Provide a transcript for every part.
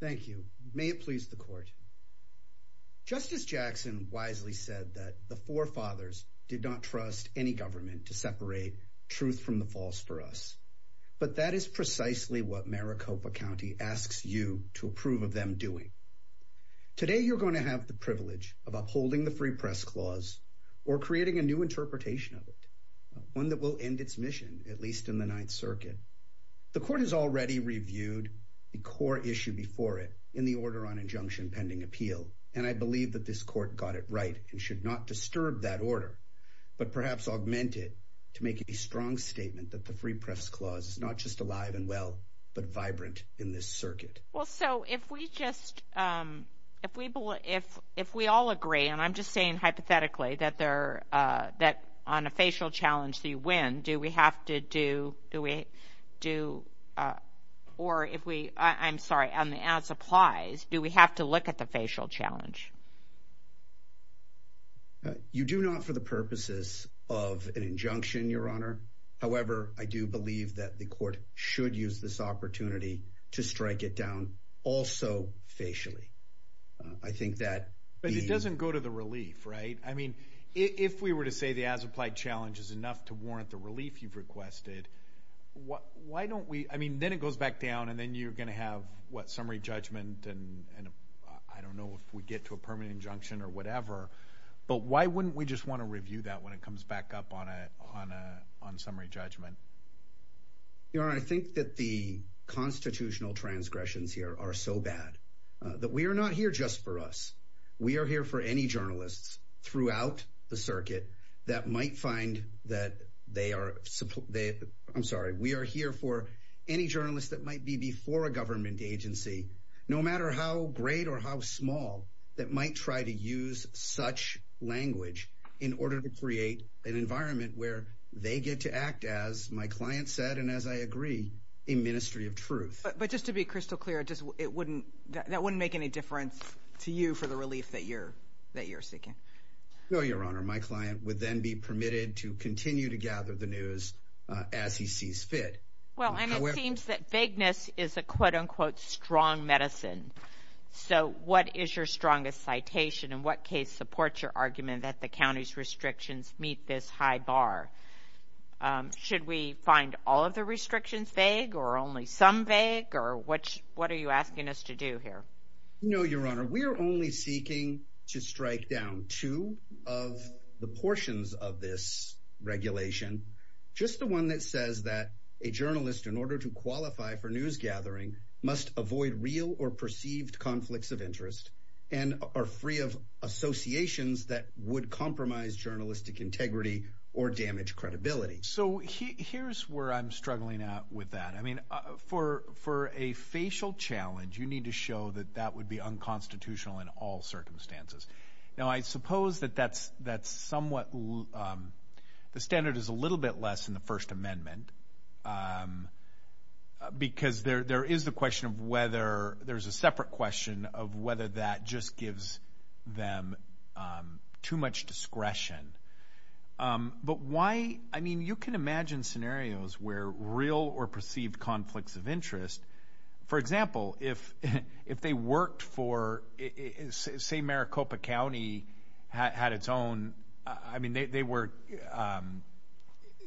Thank you. May it please the court. Justice Jackson wisely said that the forefathers did not trust any government to separate truth from the false for us. But that is precisely what Maricopa County asks you to approve of them doing. Today, you're going to have the privilege of upholding the Free Press Clause or creating a new interpretation of it. One that will end its mission, at least in the Ninth Circuit. The court has already reviewed the core issue before it in the Order on Injunction Pending Appeal. And I believe that this court got it right and should not disturb that order. But perhaps augment it to make a strong statement that the Free Press Clause is not just alive and well, but vibrant in this circuit. Well, so if we just, if we all agree, and I'm just saying hypothetically, that on a facial challenge that you win, do we have to do, or if we, I'm sorry, as applies, do we have to look at the facial challenge? You do not for the purposes of an injunction, Your Honor. However, I do believe that the court should use this opportunity to strike it down also facially. I think that... But it doesn't go to the relief, right? I mean, if we were to say the as applied challenge is enough to warrant the relief you've requested, why don't we, I mean, then it goes back down, and then you're going to have, what, summary judgment, and I don't know if we get to a permanent injunction or whatever. But why wouldn't we just want to review that when it comes back up on a summary judgment? Your Honor, I think that the constitutional transgressions here are so bad that we are not here just for us. We are here for any journalists throughout the circuit that might find that they are, I'm sorry, we are here for any journalist that might be before a government agency, no matter how great or how small, that might try to use such language in order to create an environment where they get to act as my client said, and as I agree, a ministry of truth. But just to be crystal clear, that wouldn't make any difference to you for the relief that you're seeking? No, Your Honor. My client would then be permitted to continue to gather the news as he sees fit. Well, and it seems that vagueness is a quote-unquote strong medicine. So what is your strongest citation, and what case supports your argument that the county's restrictions meet this high bar? Should we find all of the restrictions vague or only some vague, or what are you asking us to do here? No, Your Honor. We are only seeking to strike down two of the portions of this regulation, just the one that says that a journalist, in order to qualify for news gathering, must avoid real or perceived conflicts of interest, and are free of associations that would compromise journalistic integrity or damage credibility. So here's where I'm struggling with that. I mean, for a facial challenge, you need to show that that would be unconstitutional in all circumstances. Now, I suppose that that's somewhat, the standard is a little bit less in the First Amendment, because there is the question of whether, there's a separate question of whether that just gives them too much discretion. But why, I mean, you can imagine scenarios where real or perceived conflicts of interest, for example, if they worked for, say Maricopa County had its own, I mean, they were,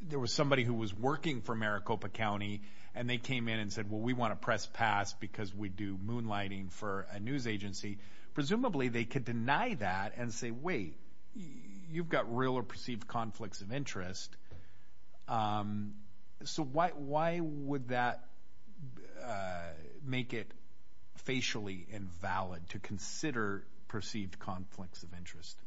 there was somebody who was working for Maricopa County, and they came in and said, well, we want to press pass because we do moonlighting for a news agency. Presumably, they could deny that and say, wait, you've got real or perceived conflicts of interest. So why would that make it facially invalid to consider perceived conflicts of interest?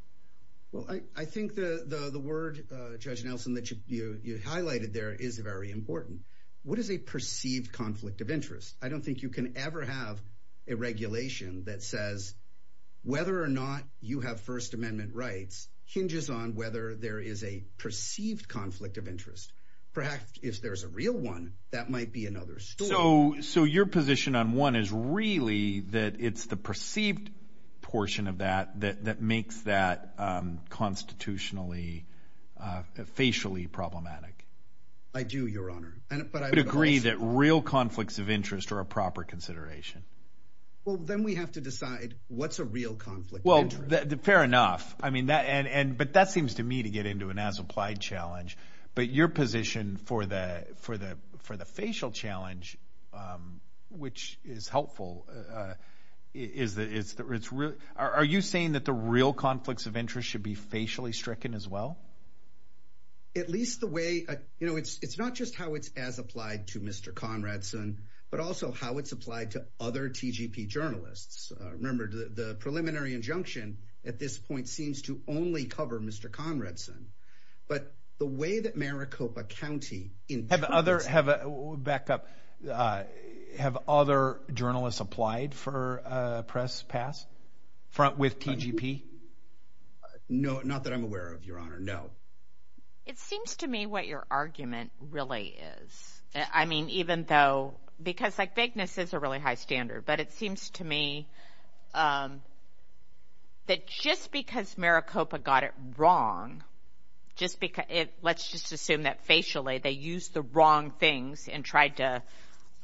Well, I think the word, Judge Nelson, that you highlighted there is very important. What is a perceived conflict of interest? I don't think you can ever have a regulation that says whether or not you have First Amendment rights hinges on whether there is a perceived conflict of interest. Perhaps if there's a real one, that might be another story. So your position on one is really that it's the perceived portion of that that makes that constitutionally, facially problematic. I do, Your Honor. But I would agree that real conflicts of interest are a proper consideration. Well, then we have to decide what's a real conflict of interest. Fair enough. I mean, that and but that seems to me to get into an as applied challenge. But your position for the for the for the facial challenge, which is helpful, is that it's it's real. Are you saying that the real conflicts of interest should be facially stricken as well? At least the way you know, it's it's not just how it's as applied to Mr. Conrad's son, but also how it's applied to other TGP journalists. Remember, the preliminary injunction at this point seems to only cover Mr. Conrad's son. But the way that Maricopa County in other have a backup, have other journalists applied for a press pass front with TGP? No, not that I'm aware of, Your Honor. No, it seems to me what your argument really is. I mean, even though because like vagueness is a really high standard, but it seems to me that just because Maricopa got it wrong, just because it let's just assume that facially they use the wrong things and tried to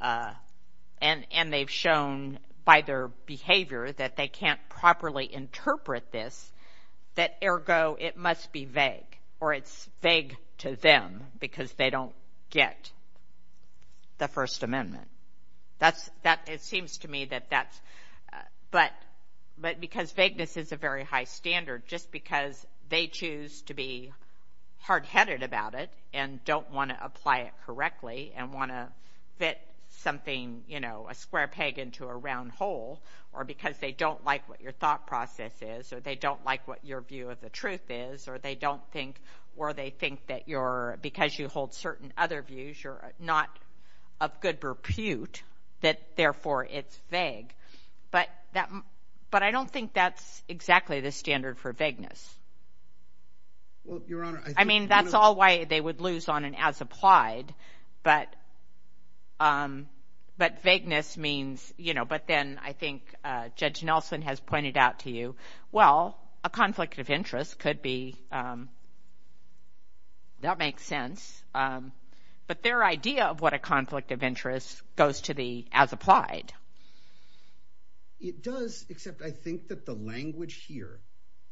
and and they've shown by their behavior that they can't properly interpret this, that ergo it must be vague or it's vague to them because they don't get the First Amendment. That's that it seems to me that that's but but because vagueness is a very high standard, just because they choose to be hard headed about it and don't want to apply it correctly and want to fit something, you know, a square peg into a round hole or because they don't like what your thought process is or they don't like what your view of the truth is or they don't think or they think that you're because you hold certain other views, you're not of good repute that therefore it's vague. But that but I don't think that's exactly the standard for vagueness. Well, Your Honor, I mean, that's all why they would lose on an as applied. But but vagueness means, you know, but then I think Judge Nelson has pointed out to you. Well, a conflict of interest could be. That makes sense. But their idea of what a conflict of interest goes to the as applied. It does, except I think that the language here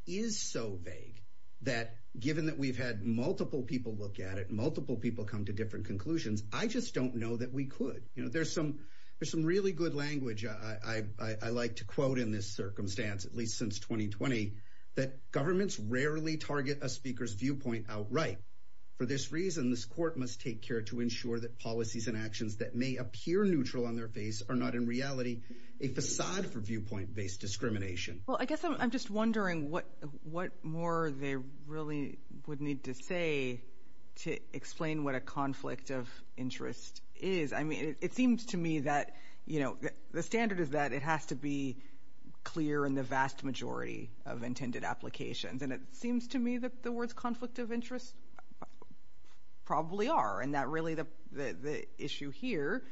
is so vague that given that we've had multiple people look at it, multiple people come to different conclusions. I just don't know that we could. You know, there's some there's some really good language. I like to quote in this circumstance, at least since 2020, that governments rarely target a speaker's viewpoint outright. For this reason, this court must take care to ensure that policies and actions that may appear neutral on their face are not in reality a facade for viewpoint based discrimination. Well, I guess I'm just wondering what what more they really would need to say to explain what a conflict of interest is. I mean, it seems to me that, you know, the standard is that it has to be clear in the vast majority of intended applications. And it seems to me that the words conflict of interest probably are. And that really the the issue here,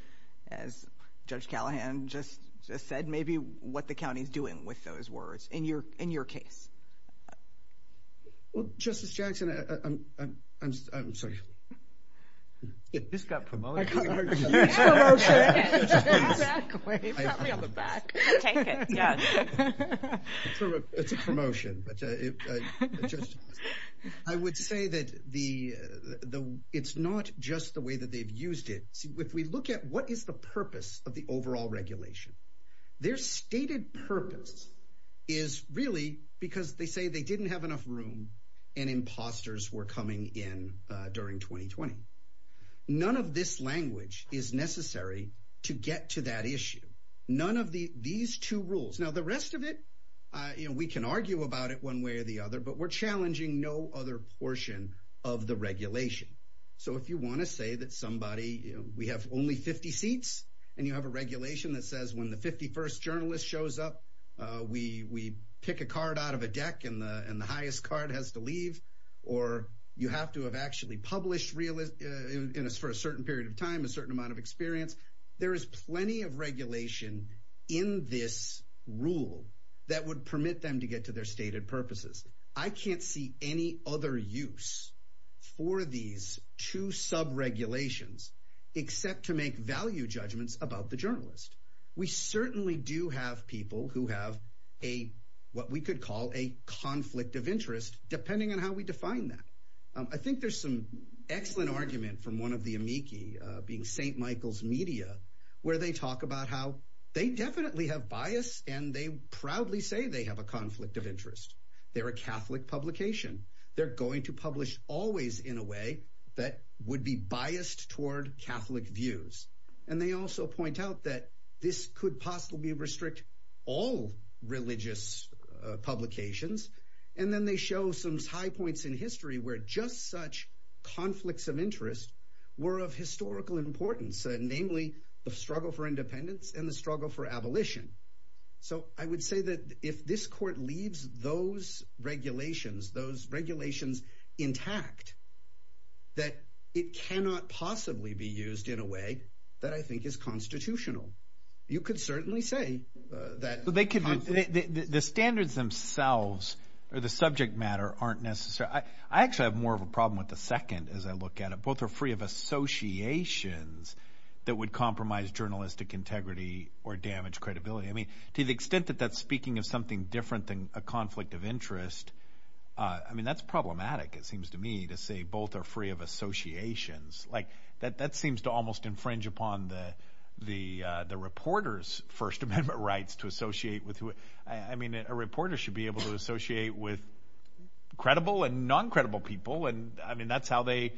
as Judge Callahan just said, maybe what the county is doing with those words in your in your case. Well, Justice Jackson, I'm sorry. It just got promoted. OK. It's a promotion, but I would say that the the it's not just the way that they've used it. If we look at what is the purpose of the overall regulation, their stated purpose is really because they say they didn't have enough room and imposters were coming in during 2020. None of this language is necessary to get to that issue. None of the these two rules. Now, the rest of it, you know, we can argue about it one way or the other, but we're challenging no other portion of the regulation. So if you want to say that somebody we have only 50 seats and you have a regulation that says when the 51st journalist shows up, we we pick a card out of a deck and the highest card has to leave. Or you have to have actually published realist for a certain period of time, a certain amount of experience. There is plenty of regulation in this rule that would permit them to get to their stated purposes. I can't see any other use for these two sub regulations except to make value judgments about the journalist. We certainly do have people who have a what we could call a conflict of interest, depending on how we define that. I think there's some excellent argument from one of the amici being St. Michael's media where they talk about how they definitely have bias and they proudly say they have a conflict of interest. They're a Catholic publication. They're going to publish always in a way that would be biased toward Catholic views. And they also point out that this could possibly restrict all religious publications. And then they show some high points in history where just such conflicts of interest were of historical importance, namely the struggle for independence and the struggle for abolition. So I would say that if this court leaves those regulations, those regulations intact, that it cannot possibly be used in a way that I think is constitutional. You could certainly say that they could. The standards themselves or the subject matter aren't necessary. I actually have more of a problem with the second as I look at it. Both are free of associations that would compromise journalistic integrity or damage credibility. I mean, to the extent that that's speaking of something different than a conflict of interest. I mean, that's problematic. It seems to me to say both are free of associations like that. That seems to almost infringe upon the reporter's First Amendment rights to associate with who. I mean, a reporter should be able to associate with credible and non-credible people. And, I mean, that's how they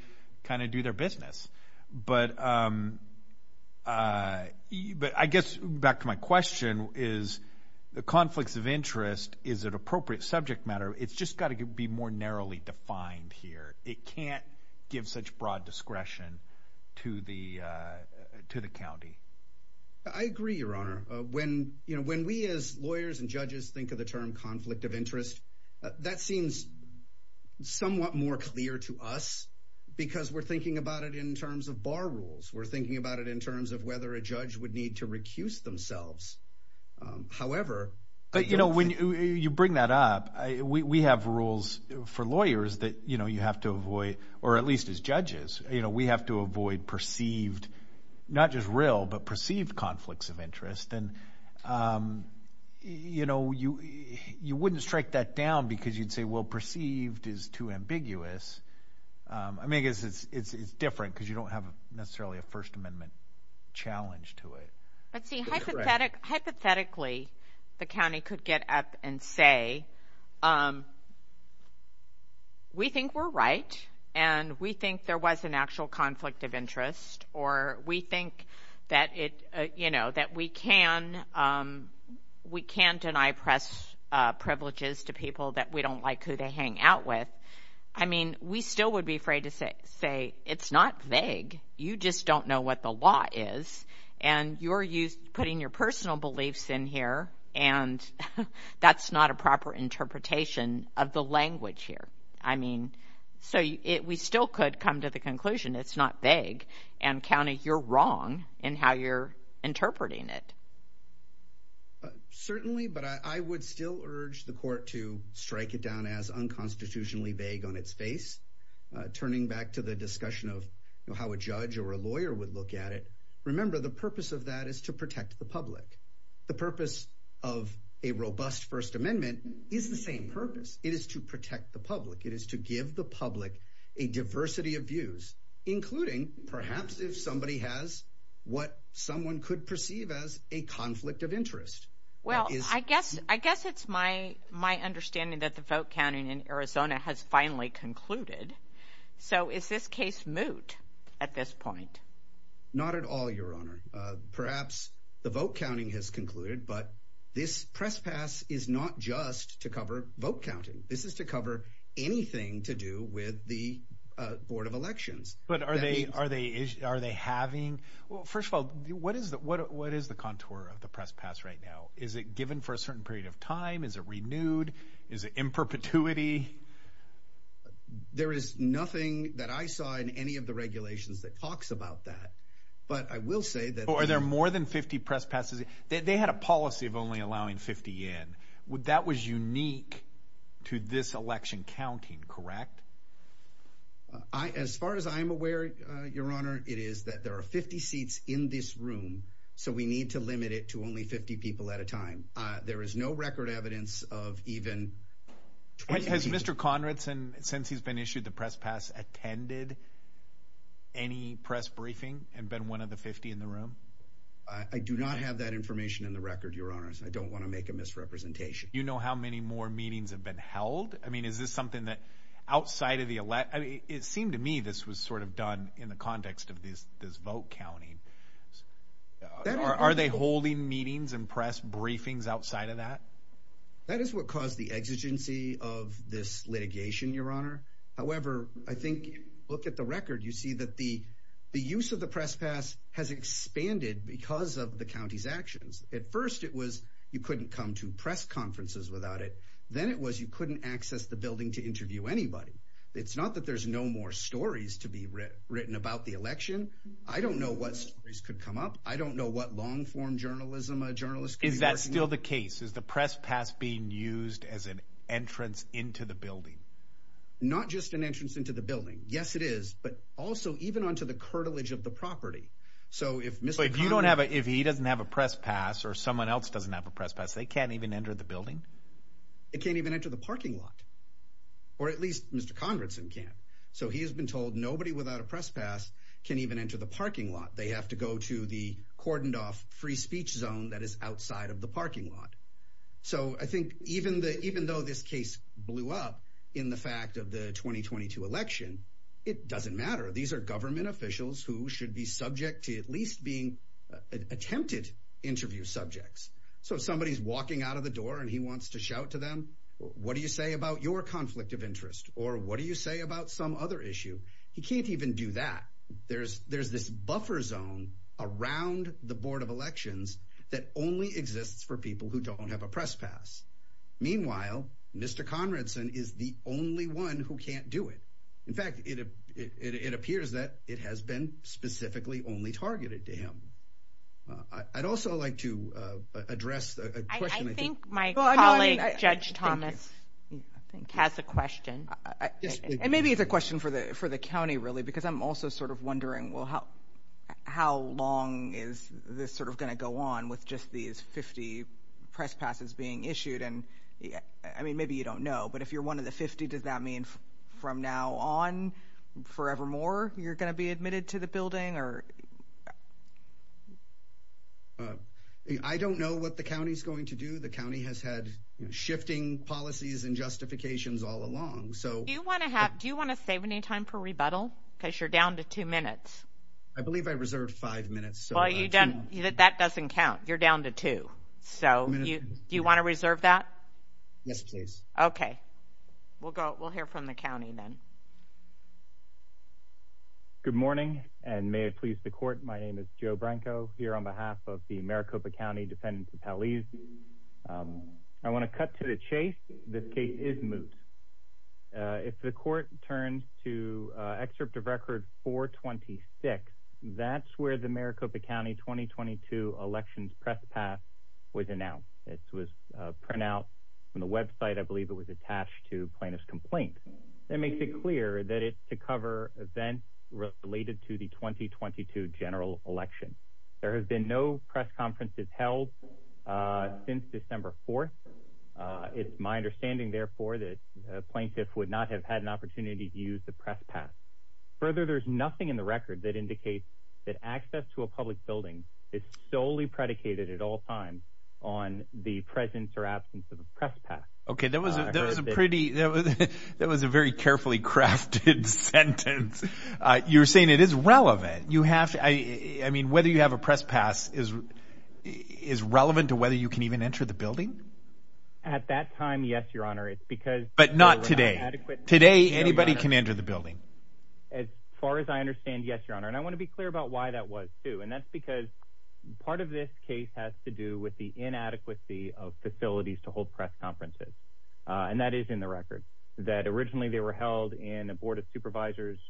kind of do their business. But I guess back to my question is the conflicts of interest is an appropriate subject matter. It's just got to be more narrowly defined here. It can't give such broad discretion to the county. I agree, Your Honor. When we as lawyers and judges think of the term conflict of interest, that seems somewhat more clear to us because we're thinking about it in terms of bar rules. We're thinking about it in terms of whether a judge would need to recuse themselves. However— But, you know, when you bring that up, we have rules for lawyers that you have to avoid, or at least as judges. We have to avoid perceived, not just real, but perceived conflicts of interest. And, you know, you wouldn't strike that down because you'd say, well, perceived is too ambiguous. I mean, I guess it's different because you don't have necessarily a First Amendment challenge to it. But, see, hypothetically, the county could get up and say, we think we're right, and we think there was an actual conflict of interest, or we think that it, you know, that we can't deny press privileges to people that we don't like who they hang out with. I mean, we still would be afraid to say, it's not vague. You just don't know what the law is, and you're putting your personal beliefs in here, and that's not a proper interpretation of the language here. I mean, so we still could come to the conclusion it's not vague, and county, you're wrong in how you're interpreting it. Certainly, but I would still urge the court to strike it down as unconstitutionally vague on its face, turning back to the discussion of how a judge or a lawyer would look at it. Remember, the purpose of that is to protect the public. The purpose of a robust First Amendment is the same purpose. It is to protect the public. It is to give the public a diversity of views, including perhaps if somebody has what someone could perceive as a conflict of interest. Well, I guess it's my understanding that the vote counting in Arizona has finally concluded. So is this case moot at this point? Not at all, Your Honor. Perhaps the vote counting has concluded, but this press pass is not just to cover vote counting. This is to cover anything to do with the Board of Elections. But are they having? Well, first of all, what is the contour of the press pass right now? Is it given for a certain period of time? Is it renewed? Is it in perpetuity? There is nothing that I saw in any of the regulations that talks about that. But I will say that there are more than 50 press passes. They had a policy of only allowing 50 in. That was unique to this election counting, correct? As far as I'm aware, Your Honor, it is that there are 50 seats in this room, so we need to limit it to only 50 people at a time. There is no record evidence of even 20 people. Has Mr. Conradson, since he's been issued the press pass, attended any press briefing and been one of the 50 in the room? I do not have that information in the record, Your Honor. I don't want to make a misrepresentation. Do you know how many more meetings have been held? I mean, is this something that outside of the elect—it seemed to me this was sort of done in the context of this vote counting. Are they holding meetings and press briefings outside of that? That is what caused the exigency of this litigation, Your Honor. However, I think if you look at the record, you see that the use of the press pass has expanded because of the county's actions. At first it was you couldn't come to press conferences without it. Then it was you couldn't access the building to interview anybody. It's not that there's no more stories to be written about the election. I don't know what stories could come up. I don't know what long-form journalism a journalist could be working with. Is that still the case? Is the press pass being used as an entrance into the building? Not just an entrance into the building. Yes, it is, but also even onto the curtilage of the property. But if he doesn't have a press pass or someone else doesn't have a press pass, they can't even enter the building? They can't even enter the parking lot, or at least Mr. Conradson can't. So he has been told nobody without a press pass can even enter the parking lot. They have to go to the cordoned-off free speech zone that is outside of the parking lot. So I think even though this case blew up in the fact of the 2022 election, it doesn't matter. These are government officials who should be subject to at least being attempted interview subjects. So if somebody is walking out of the door and he wants to shout to them, what do you say about your conflict of interest? Or what do you say about some other issue? He can't even do that. There's this buffer zone around the board of elections that only exists for people who don't have a press pass. Meanwhile, Mr. Conradson is the only one who can't do it. In fact, it appears that it has been specifically only targeted to him. I'd also like to address a question. I think my colleague, Judge Thomas, has a question. And maybe it's a question for the county, really, because I'm also sort of wondering, well, how long is this sort of going to go on with just these 50 press passes being issued? I mean, maybe you don't know. But if you're one of the 50, does that mean from now on, forevermore, you're going to be admitted to the building? I don't know what the county is going to do. The county has had shifting policies and justifications all along. Do you want to save any time for rebuttal? Because you're down to two minutes. I believe I reserved five minutes. That doesn't count. You're down to two. Do you want to reserve that? Yes, please. Okay. We'll hear from the county then. Good morning, and may it please the court, my name is Joe Branco, here on behalf of the Maricopa County Defendant Appellees. I want to cut to the chase. This case is moot. If the court turns to Excerpt of Record 426, that's where the Maricopa County 2022 elections press pass was announced. It was print out from the website. I believe it was attached to plaintiff's complaint. That makes it clear that it's to cover events related to the 2022 general election. There have been no press conferences held since December 4th. It's my understanding, therefore, that a plaintiff would not have had an opportunity to use the press pass. Further, there's nothing in the record that indicates that access to a public building is solely predicated at all times on the presence or absence of a press pass. Okay, that was a very carefully crafted sentence. You're saying it is relevant. I mean, whether you have a press pass is relevant to whether you can even enter the building? At that time, yes, your honor. But not today. Today, anybody can enter the building. As far as I understand, yes, your honor. And I want to be clear about why that was, too. And that's because part of this case has to do with the inadequacy of facilities to hold press conferences. And that is in the record, that originally they were held in a board of supervisors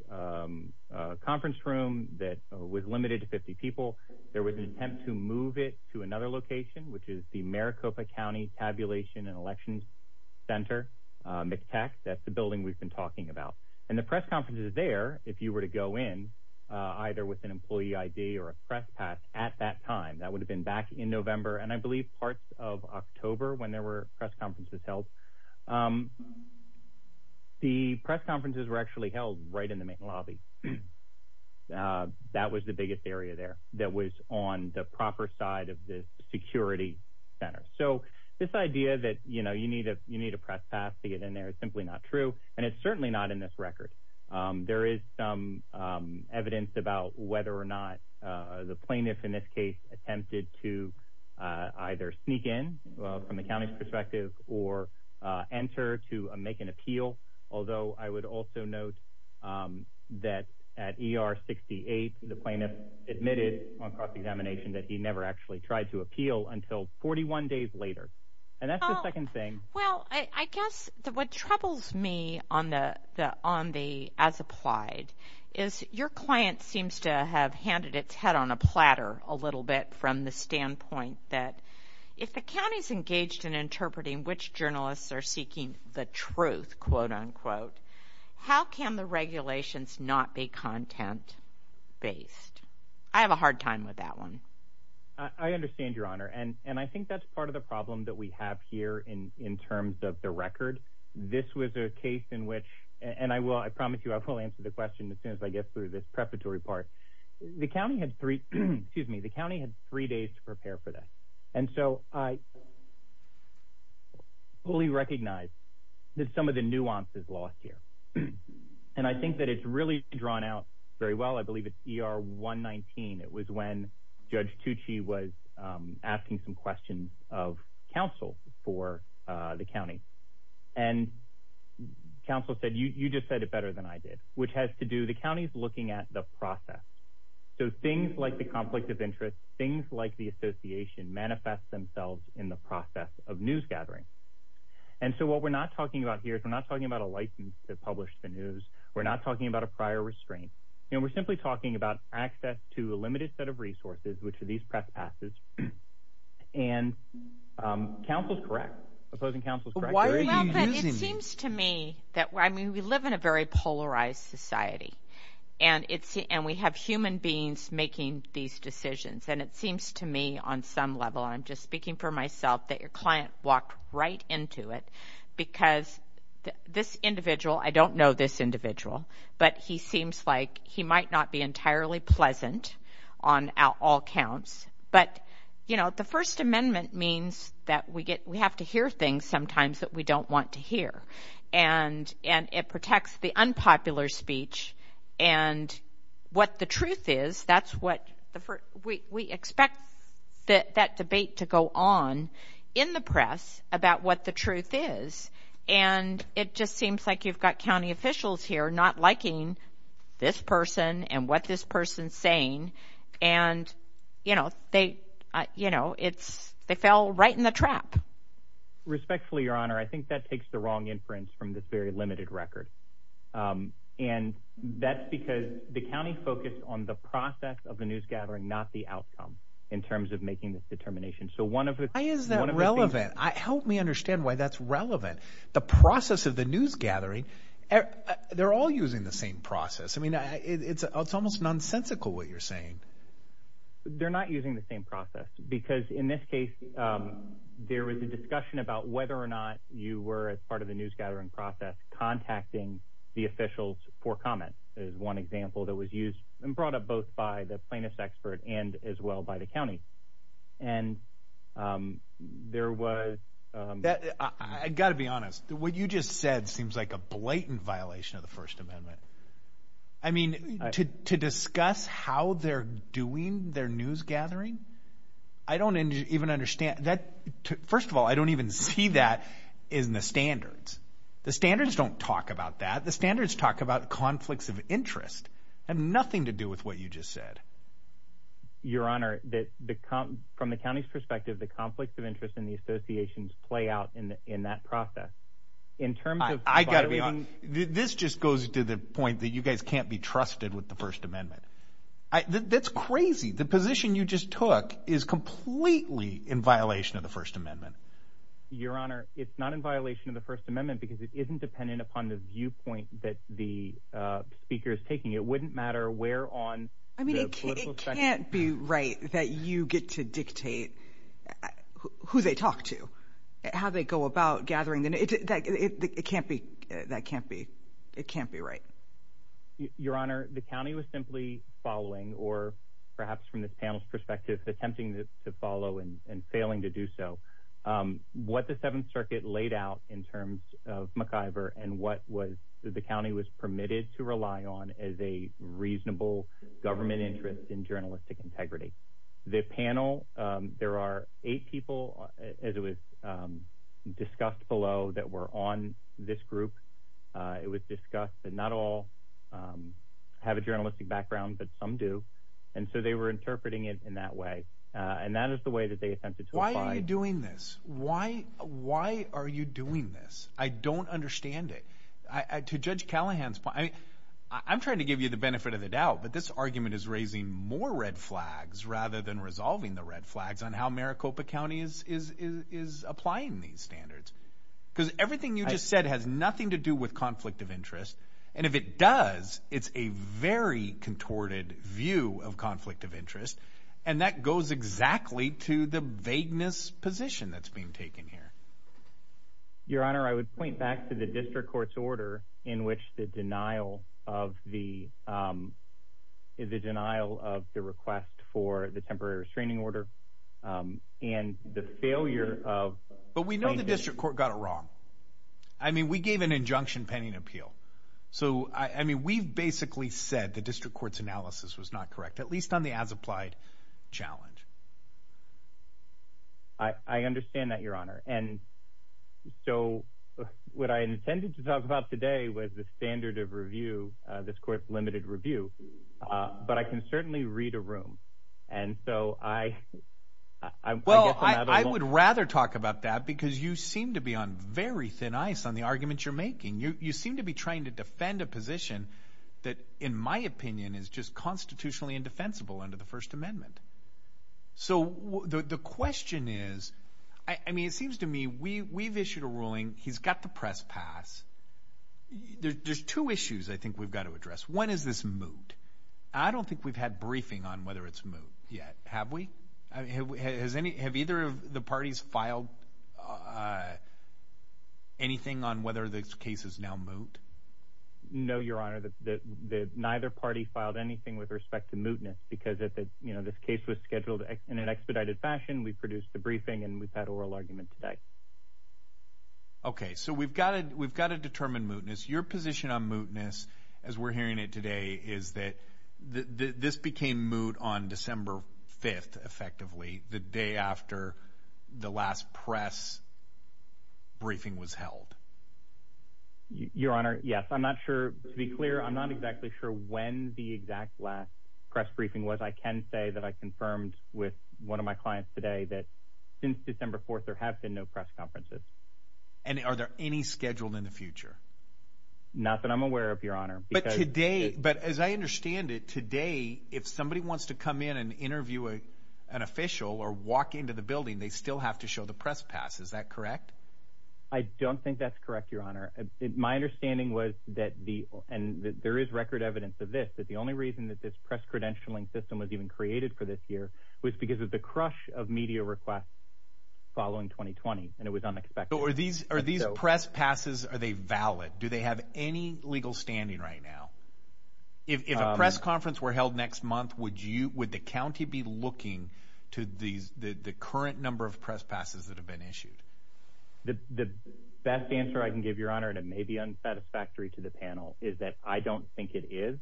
conference room that was limited to 50 people. There was an attempt to move it to another location, which is the Maricopa County Tabulation and Elections Center, MCTEC. That's the building we've been talking about. And the press conference is there if you were to go in either with an employee ID or a press pass at that time. That would have been back in November, and I believe parts of October when there were press conferences held. The press conferences were actually held right in the main lobby. That was the biggest area there that was on the proper side of the security center. So this idea that you need a press pass to get in there is simply not true, and it's certainly not in this record. There is some evidence about whether or not the plaintiff in this case attempted to either sneak in from the county's perspective or enter to make an appeal. Although I would also note that at ER 68, the plaintiff admitted on cross-examination that he never actually tried to appeal until 41 days later. And that's the second thing. Well, I guess what troubles me as applied is your client seems to have handed its head on a platter a little bit from the standpoint that if the county's engaged in interpreting which journalists are seeking the truth, quote-unquote, how can the regulations not be content-based? I have a hard time with that one. I understand, Your Honor, and I think that's part of the problem that we have here in terms of the record. This was a case in which – and I promise you I will answer the question as soon as I get through this preparatory part. The county had three days to prepare for this, and so I fully recognize that some of the nuance is lost here. And I think that it's really drawn out very well. I believe it's ER 119. It was when Judge Tucci was asking some questions of counsel for the county. And counsel said, you just said it better than I did, which has to do – the county's looking at the process. So things like the conflict of interest, things like the association manifest themselves in the process of news gathering. And so what we're not talking about here is we're not talking about a license to publish the news. We're not talking about a prior restraint. We're simply talking about access to a limited set of resources, which are these press passes. And counsel's correct. Opposing counsel's correct. Why are you using – Well, but it seems to me that – I mean, we live in a very polarized society, and we have human beings making these decisions. And it seems to me on some level – and I'm just speaking for myself – that your client walked right into it because this individual – I don't know this individual, but he seems like he might not be entirely pleasant on all counts. But, you know, the First Amendment means that we have to hear things sometimes that we don't want to hear. And it protects the unpopular speech. And what the truth is, that's what – we expect that debate to go on in the press about what the truth is. And it just seems like you've got county officials here not liking this person and what this person's saying. And, you know, they – you know, it's – they fell right in the trap. Respectfully, Your Honor, I think that takes the wrong inference from this very limited record. And that's because the county focused on the process of the newsgathering, not the outcome, in terms of making this determination. So one of the – Why is that relevant? Help me understand why that's relevant. The process of the newsgathering – they're all using the same process. I mean, it's almost nonsensical what you're saying. They're not using the same process because, in this case, there was a discussion about whether or not you were, as part of the newsgathering process, contacting the officials for comment is one example that was used and brought up both by the plaintiff's expert and as well by the county. And there was – I've got to be honest. What you just said seems like a blatant violation of the First Amendment. I mean, to discuss how they're doing their newsgathering, I don't even understand – First of all, I don't even see that in the standards. The standards don't talk about that. The standards talk about conflicts of interest. It had nothing to do with what you just said. Your Honor, from the county's perspective, the conflicts of interest and the associations play out in that process. In terms of – I've got to be honest. This just goes to the point that you guys can't be trusted with the First Amendment. That's crazy. The position you just took is completely in violation of the First Amendment. Your Honor, it's not in violation of the First Amendment because it isn't dependent upon the viewpoint that the speaker is taking. It wouldn't matter where on the political spectrum – I mean, it can't be right that you get to dictate who they talk to, how they go about gathering. It can't be – that can't be – it can't be right. Your Honor, the county was simply following, or perhaps from this panel's perspective, attempting to follow and failing to do so, what the Seventh Circuit laid out in terms of McIver and what the county was permitted to rely on as a reasonable government interest in journalistic integrity. The panel – there are eight people, as it was discussed below, that were on this group. It was discussed that not all have a journalistic background, but some do. And so they were interpreting it in that way, and that is the way that they attempted to apply it. Why are you doing this? Why are you doing this? I don't understand it. To Judge Callahan's point, I mean, I'm trying to give you the benefit of the doubt, but this argument is raising more red flags rather than resolving the red flags on how Maricopa County is applying these standards because everything you just said has nothing to do with conflict of interest. And if it does, it's a very contorted view of conflict of interest, and that goes exactly to the vagueness position that's being taken here. Your Honor, I would point back to the district court's order in which the denial of the – the denial of the request for the temporary restraining order and the failure of – But we know the district court got it wrong. I mean, we gave an injunction pending appeal. So, I mean, we've basically said the district court's analysis was not correct, at least on the as-applied challenge. I understand that, Your Honor. And so what I intended to talk about today was the standard of review, this court's limited review. But I can certainly read a room, and so I guess I'm at a – I would rather talk about that because you seem to be on very thin ice on the arguments you're making. You seem to be trying to defend a position that, in my opinion, is just constitutionally indefensible under the First Amendment. So the question is – I mean, it seems to me we've issued a ruling. He's got the press pass. There's two issues I think we've got to address. One is this moot. I don't think we've had briefing on whether it's moot yet. Have we? Have either of the parties filed anything on whether this case is now moot? No, Your Honor. Neither party filed anything with respect to mootness because this case was scheduled in an expedited fashion. We produced the briefing, and we've had oral argument today. Okay. So we've got to determine mootness. Your position on mootness, as we're hearing it today, is that this became moot on December 5th, effectively, the day after the last press briefing was held. Your Honor, yes. I'm not sure. To be clear, I'm not exactly sure when the exact last press briefing was. I can say that I confirmed with one of my clients today that since December 4th, there have been no press conferences. And are there any scheduled in the future? Not that I'm aware of, Your Honor. But today, as I understand it, today if somebody wants to come in and interview an official or walk into the building, they still have to show the press pass. Is that correct? I don't think that's correct, Your Honor. My understanding was that there is record evidence of this, that the only reason that this press credentialing system was even created for this year was because of the crush of media requests following 2020, and it was unexpected. So are these press passes, are they valid? Do they have any legal standing right now? If a press conference were held next month, would the county be looking to the current number of press passes that have been issued? The best answer I can give, Your Honor, and it may be unsatisfactory to the panel, is that I don't think it is,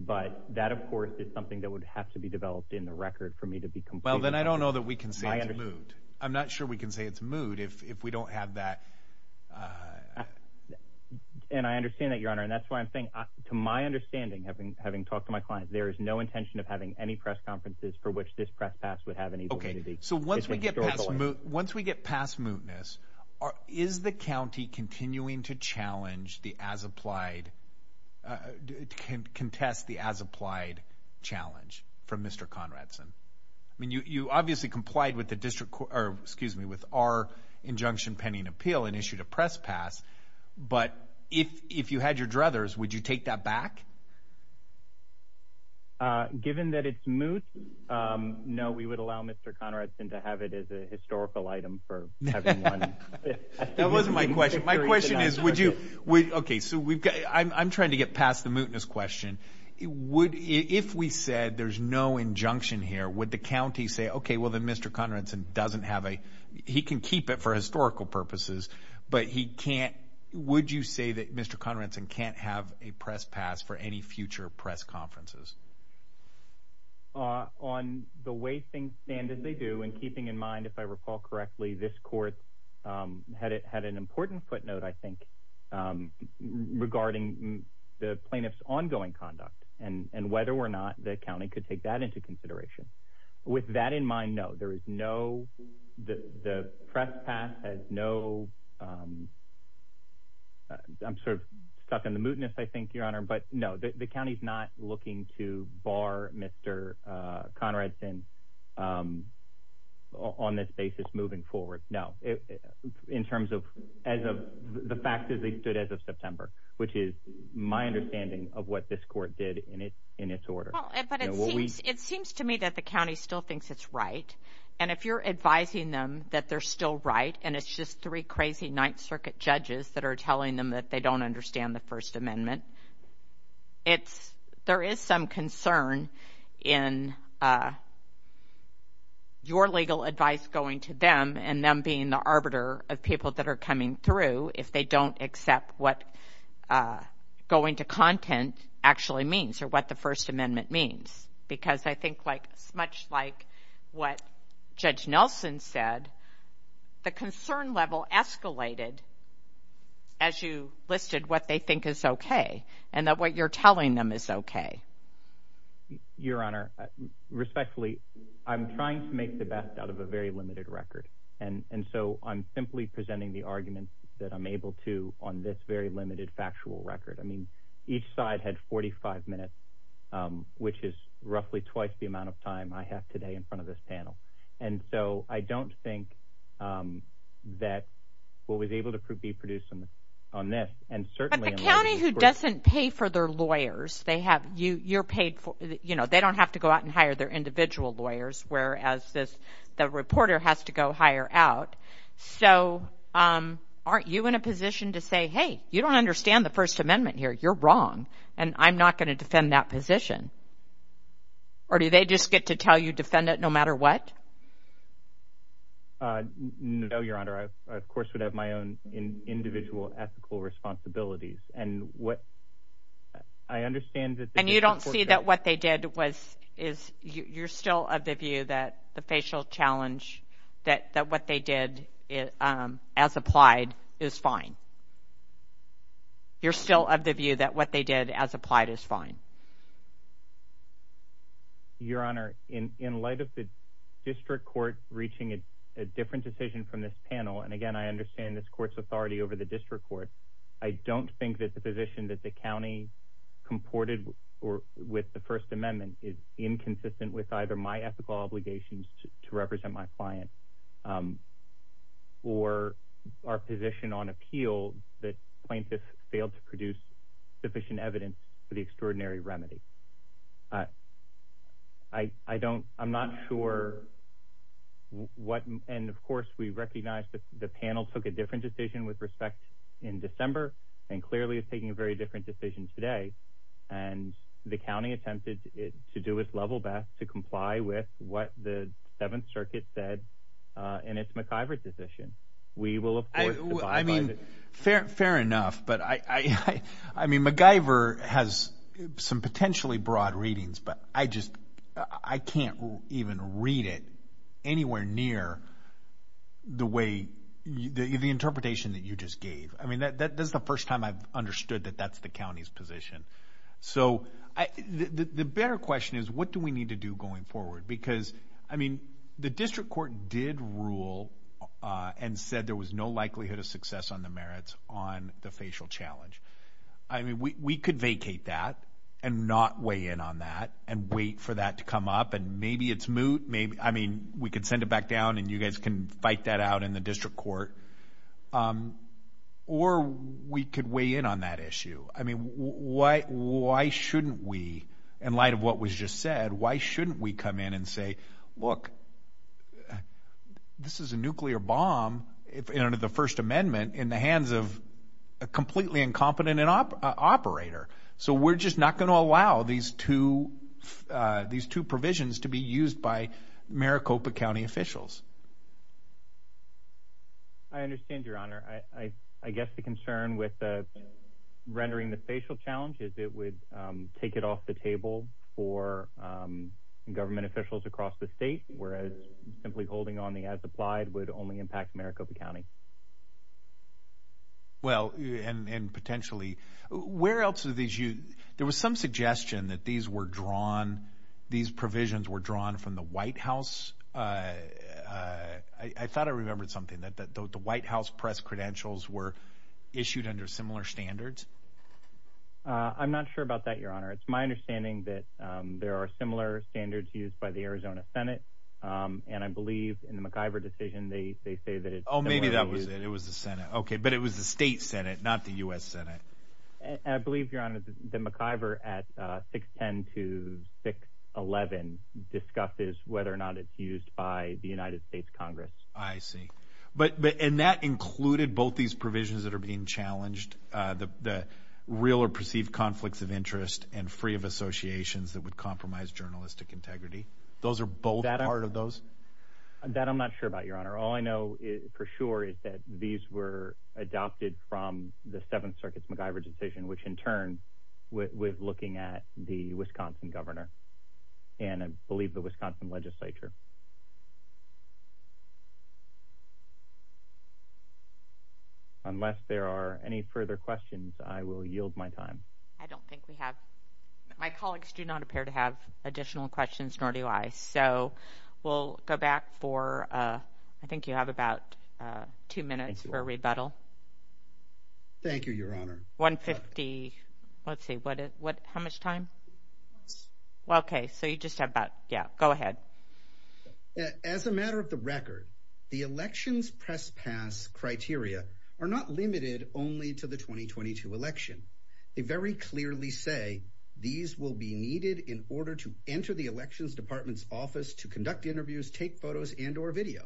but that, of course, is something that would have to be developed in the record for me to be completely— Well, then I don't know that we can say it's moot. I'm not sure we can say it's moot. If we don't have that— And I understand that, Your Honor, and that's why I'm saying, to my understanding, having talked to my clients, there is no intention of having any press conferences for which this press pass would have any validity. Okay, so once we get past mootness, is the county continuing to challenge the as-applied— contest the as-applied challenge from Mr. Conradson? I mean, you obviously complied with our injunction pending appeal and issued a press pass, but if you had your druthers, would you take that back? Given that it's moot, no, we would allow Mr. Conradson to have it as a historical item for everyone. That wasn't my question. My question is, would you— Okay, so I'm trying to get past the mootness question. If we said there's no injunction here, would the county say, okay, well then Mr. Conradson doesn't have a— he can keep it for historical purposes, but he can't— would you say that Mr. Conradson can't have a press pass for any future press conferences? On the way things stand as they do, and keeping in mind, if I recall correctly, this court had an important footnote, I think, regarding the plaintiff's ongoing conduct and whether or not the county could take that into consideration. With that in mind, no. There is no—the press pass has no— I'm sort of stuck in the mootness, I think, Your Honor, but no, the county's not looking to bar Mr. Conradson on this basis moving forward. No, in terms of the fact that they stood as of September, which is my understanding of what this court did in its order. But it seems to me that the county still thinks it's right, and if you're advising them that they're still right, and it's just three crazy Ninth Circuit judges that are telling them that they don't understand the First Amendment, there is some concern in your legal advice going to them, and them being the arbiter of people that are coming through if they don't accept what going to content actually means or what the First Amendment means. Because I think much like what Judge Nelson said, the concern level escalated as you listed what they think is okay and that what you're telling them is okay. Your Honor, respectfully, I'm trying to make the best out of a very limited record, and so I'm simply presenting the arguments that I'm able to on this very limited factual record. I mean, each side had 45 minutes, which is roughly twice the amount of time I have today in front of this panel. And so I don't think that what was able to be produced on this, and certainly... But the county who doesn't pay for their lawyers, they don't have to go out and hire their individual lawyers, whereas the reporter has to go hire out. So aren't you in a position to say, hey, you don't understand the First Amendment here. You're wrong, and I'm not going to defend that position. Or do they just get to tell you, defend it no matter what? No, Your Honor. I, of course, would have my own individual ethical responsibilities. And you don't see that what they did was... You're still of the view that the facial challenge, that what they did as applied is fine? You're still of the view that what they did as applied is fine? Your Honor, in light of the district court reaching a different decision from this panel, and again, I understand this court's authority over the district court, I don't think that the position that the county comported with the First Amendment is inconsistent with either my ethical obligations to represent my client or our position on appeal that plaintiffs failed to produce sufficient evidence for the extraordinary remedy. I don't... I'm not sure what... And, of course, we recognize that the panel took a different decision with respect in December and clearly is taking a very different decision today. And the county attempted to do its level best to comply with what the Seventh Circuit said in its McIver decision. We will, of course... I mean, fair enough. But, I mean, McIver has some potentially broad readings, but I just... I can't even read it anywhere near the way... the interpretation that you just gave. I mean, that's the first time I've understood that that's the county's position. So the better question is, what do we need to do going forward? Because, I mean, the district court did rule and said there was no likelihood of success on the merits on the facial challenge. I mean, we could vacate that and not weigh in on that and wait for that to come up, and maybe it's moot. I mean, we could send it back down, and you guys can fight that out in the district court. Or we could weigh in on that issue. I mean, why shouldn't we, in light of what was just said, why shouldn't we come in and say, look, this is a nuclear bomb under the First Amendment in the hands of a completely incompetent operator. So we're just not going to allow these two provisions to be used by Maricopa County officials. I understand, Your Honor. I guess the concern with rendering the facial challenge is it would take it off the table for government officials across the state, whereas simply holding on as applied would only impact Maricopa County. Well, and potentially. Where else do these... There was some suggestion that these were drawn, these provisions were drawn from the White House. I thought I remembered something, that the White House press credentials were issued under similar standards. I'm not sure about that, Your Honor. It's my understanding that there are similar standards used by the Arizona Senate, and I believe in the McIver decision they say that it's... Oh, maybe that was it. It was the Senate. Okay, but it was the state Senate, not the U.S. Senate. I believe, Your Honor, the McIver at 610 to 611 discusses whether or not it's used by the United States Congress. I see. And that included both these provisions that are being challenged, the real or perceived conflicts of interest and free of associations that would compromise journalistic integrity? Those are both part of those? That I'm not sure about, Your Honor. All I know for sure is that these were adopted from the Seventh Circuit's McIver decision, which in turn was looking at the Wisconsin governor and I believe the Wisconsin legislature. Unless there are any further questions, I will yield my time. I don't think we have... My colleagues do not appear to have additional questions, nor do I. So we'll go back for... I think you have about two minutes for a rebuttal. Thank you, Your Honor. 150...let's see, how much time? Okay, so you just have about...yeah, go ahead. As a matter of the record, the elections press pass criteria are not limited only to the 2022 election. They very clearly say these will be needed in order to enter the elections department's office to conduct interviews, take photos, and or video.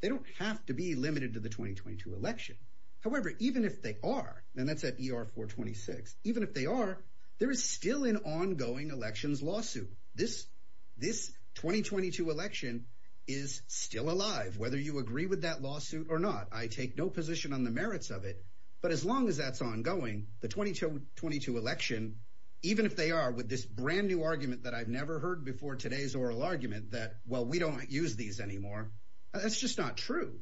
They don't have to be limited to the 2022 election. However, even if they are, and that's at ER 426, even if they are, there is still an ongoing elections lawsuit. This 2022 election is still alive, whether you agree with that lawsuit or not. I take no position on the merits of it, but as long as that's ongoing, the 2022 election, even if they are with this brand-new argument that I've never heard before today's oral argument, that, well, we don't use these anymore, that's just not true.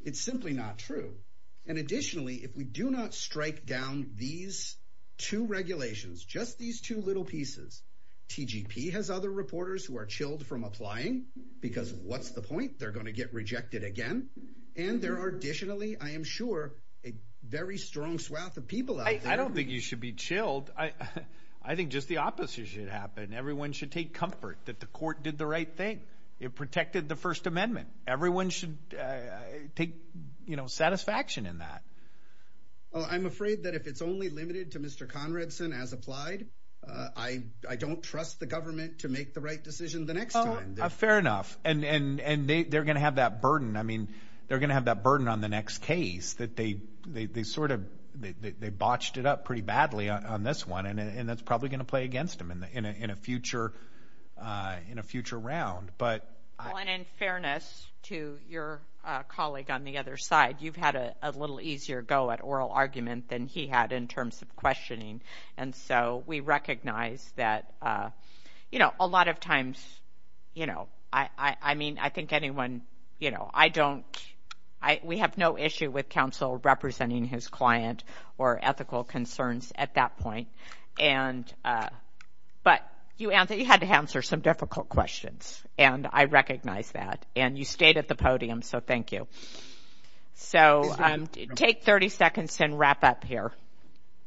It's simply not true. And additionally, if we do not strike down these two regulations, just these two little pieces, TGP has other reporters who are chilled from applying because what's the point? They're going to get rejected again. And there are additionally, I am sure, a very strong swath of people out there... I don't think you should be chilled. I think just the opposite should happen. Everyone should take comfort that the court did the right thing. It protected the First Amendment. Everyone should take satisfaction in that. I'm afraid that if it's only limited to Mr. Conradson, as applied, I don't trust the government to make the right decision the next time. Fair enough. And they're going to have that burden. They're going to have that burden on the next case that they sort of botched it up pretty badly on this one. And that's probably going to play against them in a future round. Well, and in fairness to your colleague on the other side, you've had a little easier go at oral argument than he had in terms of questioning. And so we recognize that a lot of times... I mean, I think anyone... We have no issue with counseling. We have no issue with counsel representing his client or ethical concerns at that point. But you had to answer some difficult questions, and I recognize that. And you stayed at the podium, so thank you. So take 30 seconds and wrap up here.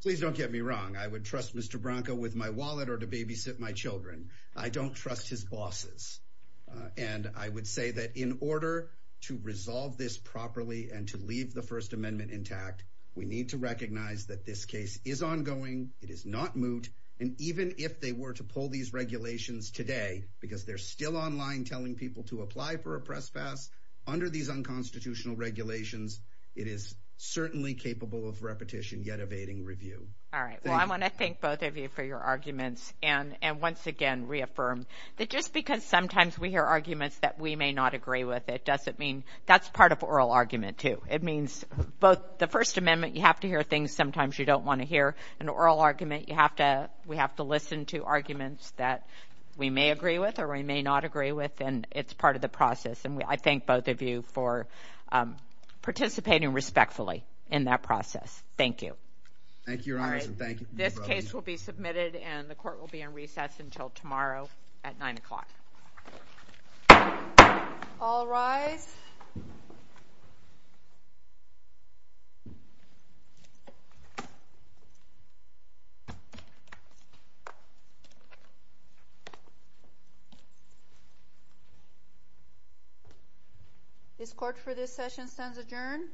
Please don't get me wrong. I would trust Mr. Branca with my wallet or to babysit my children. I don't trust his bosses. And I would say that in order to resolve this properly and to leave the First Amendment intact, we need to recognize that this case is ongoing. It is not moot. And even if they were to pull these regulations today because they're still online telling people to apply for a press pass under these unconstitutional regulations, it is certainly capable of repetition yet evading review. All right, well, I want to thank both of you for your arguments and once again reaffirm that just because sometimes we hear arguments that we may not agree with, it doesn't mean... That's part of oral argument, too. It means both the First Amendment, you have to hear things sometimes you don't want to hear, and oral argument, we have to listen to arguments that we may agree with or we may not agree with, and it's part of the process. And I thank both of you for participating respectfully in that process. Thank you. All right, this case will be submitted and the court will be in recess until tomorrow at 9 o'clock. All rise. This court for this session stands adjourned.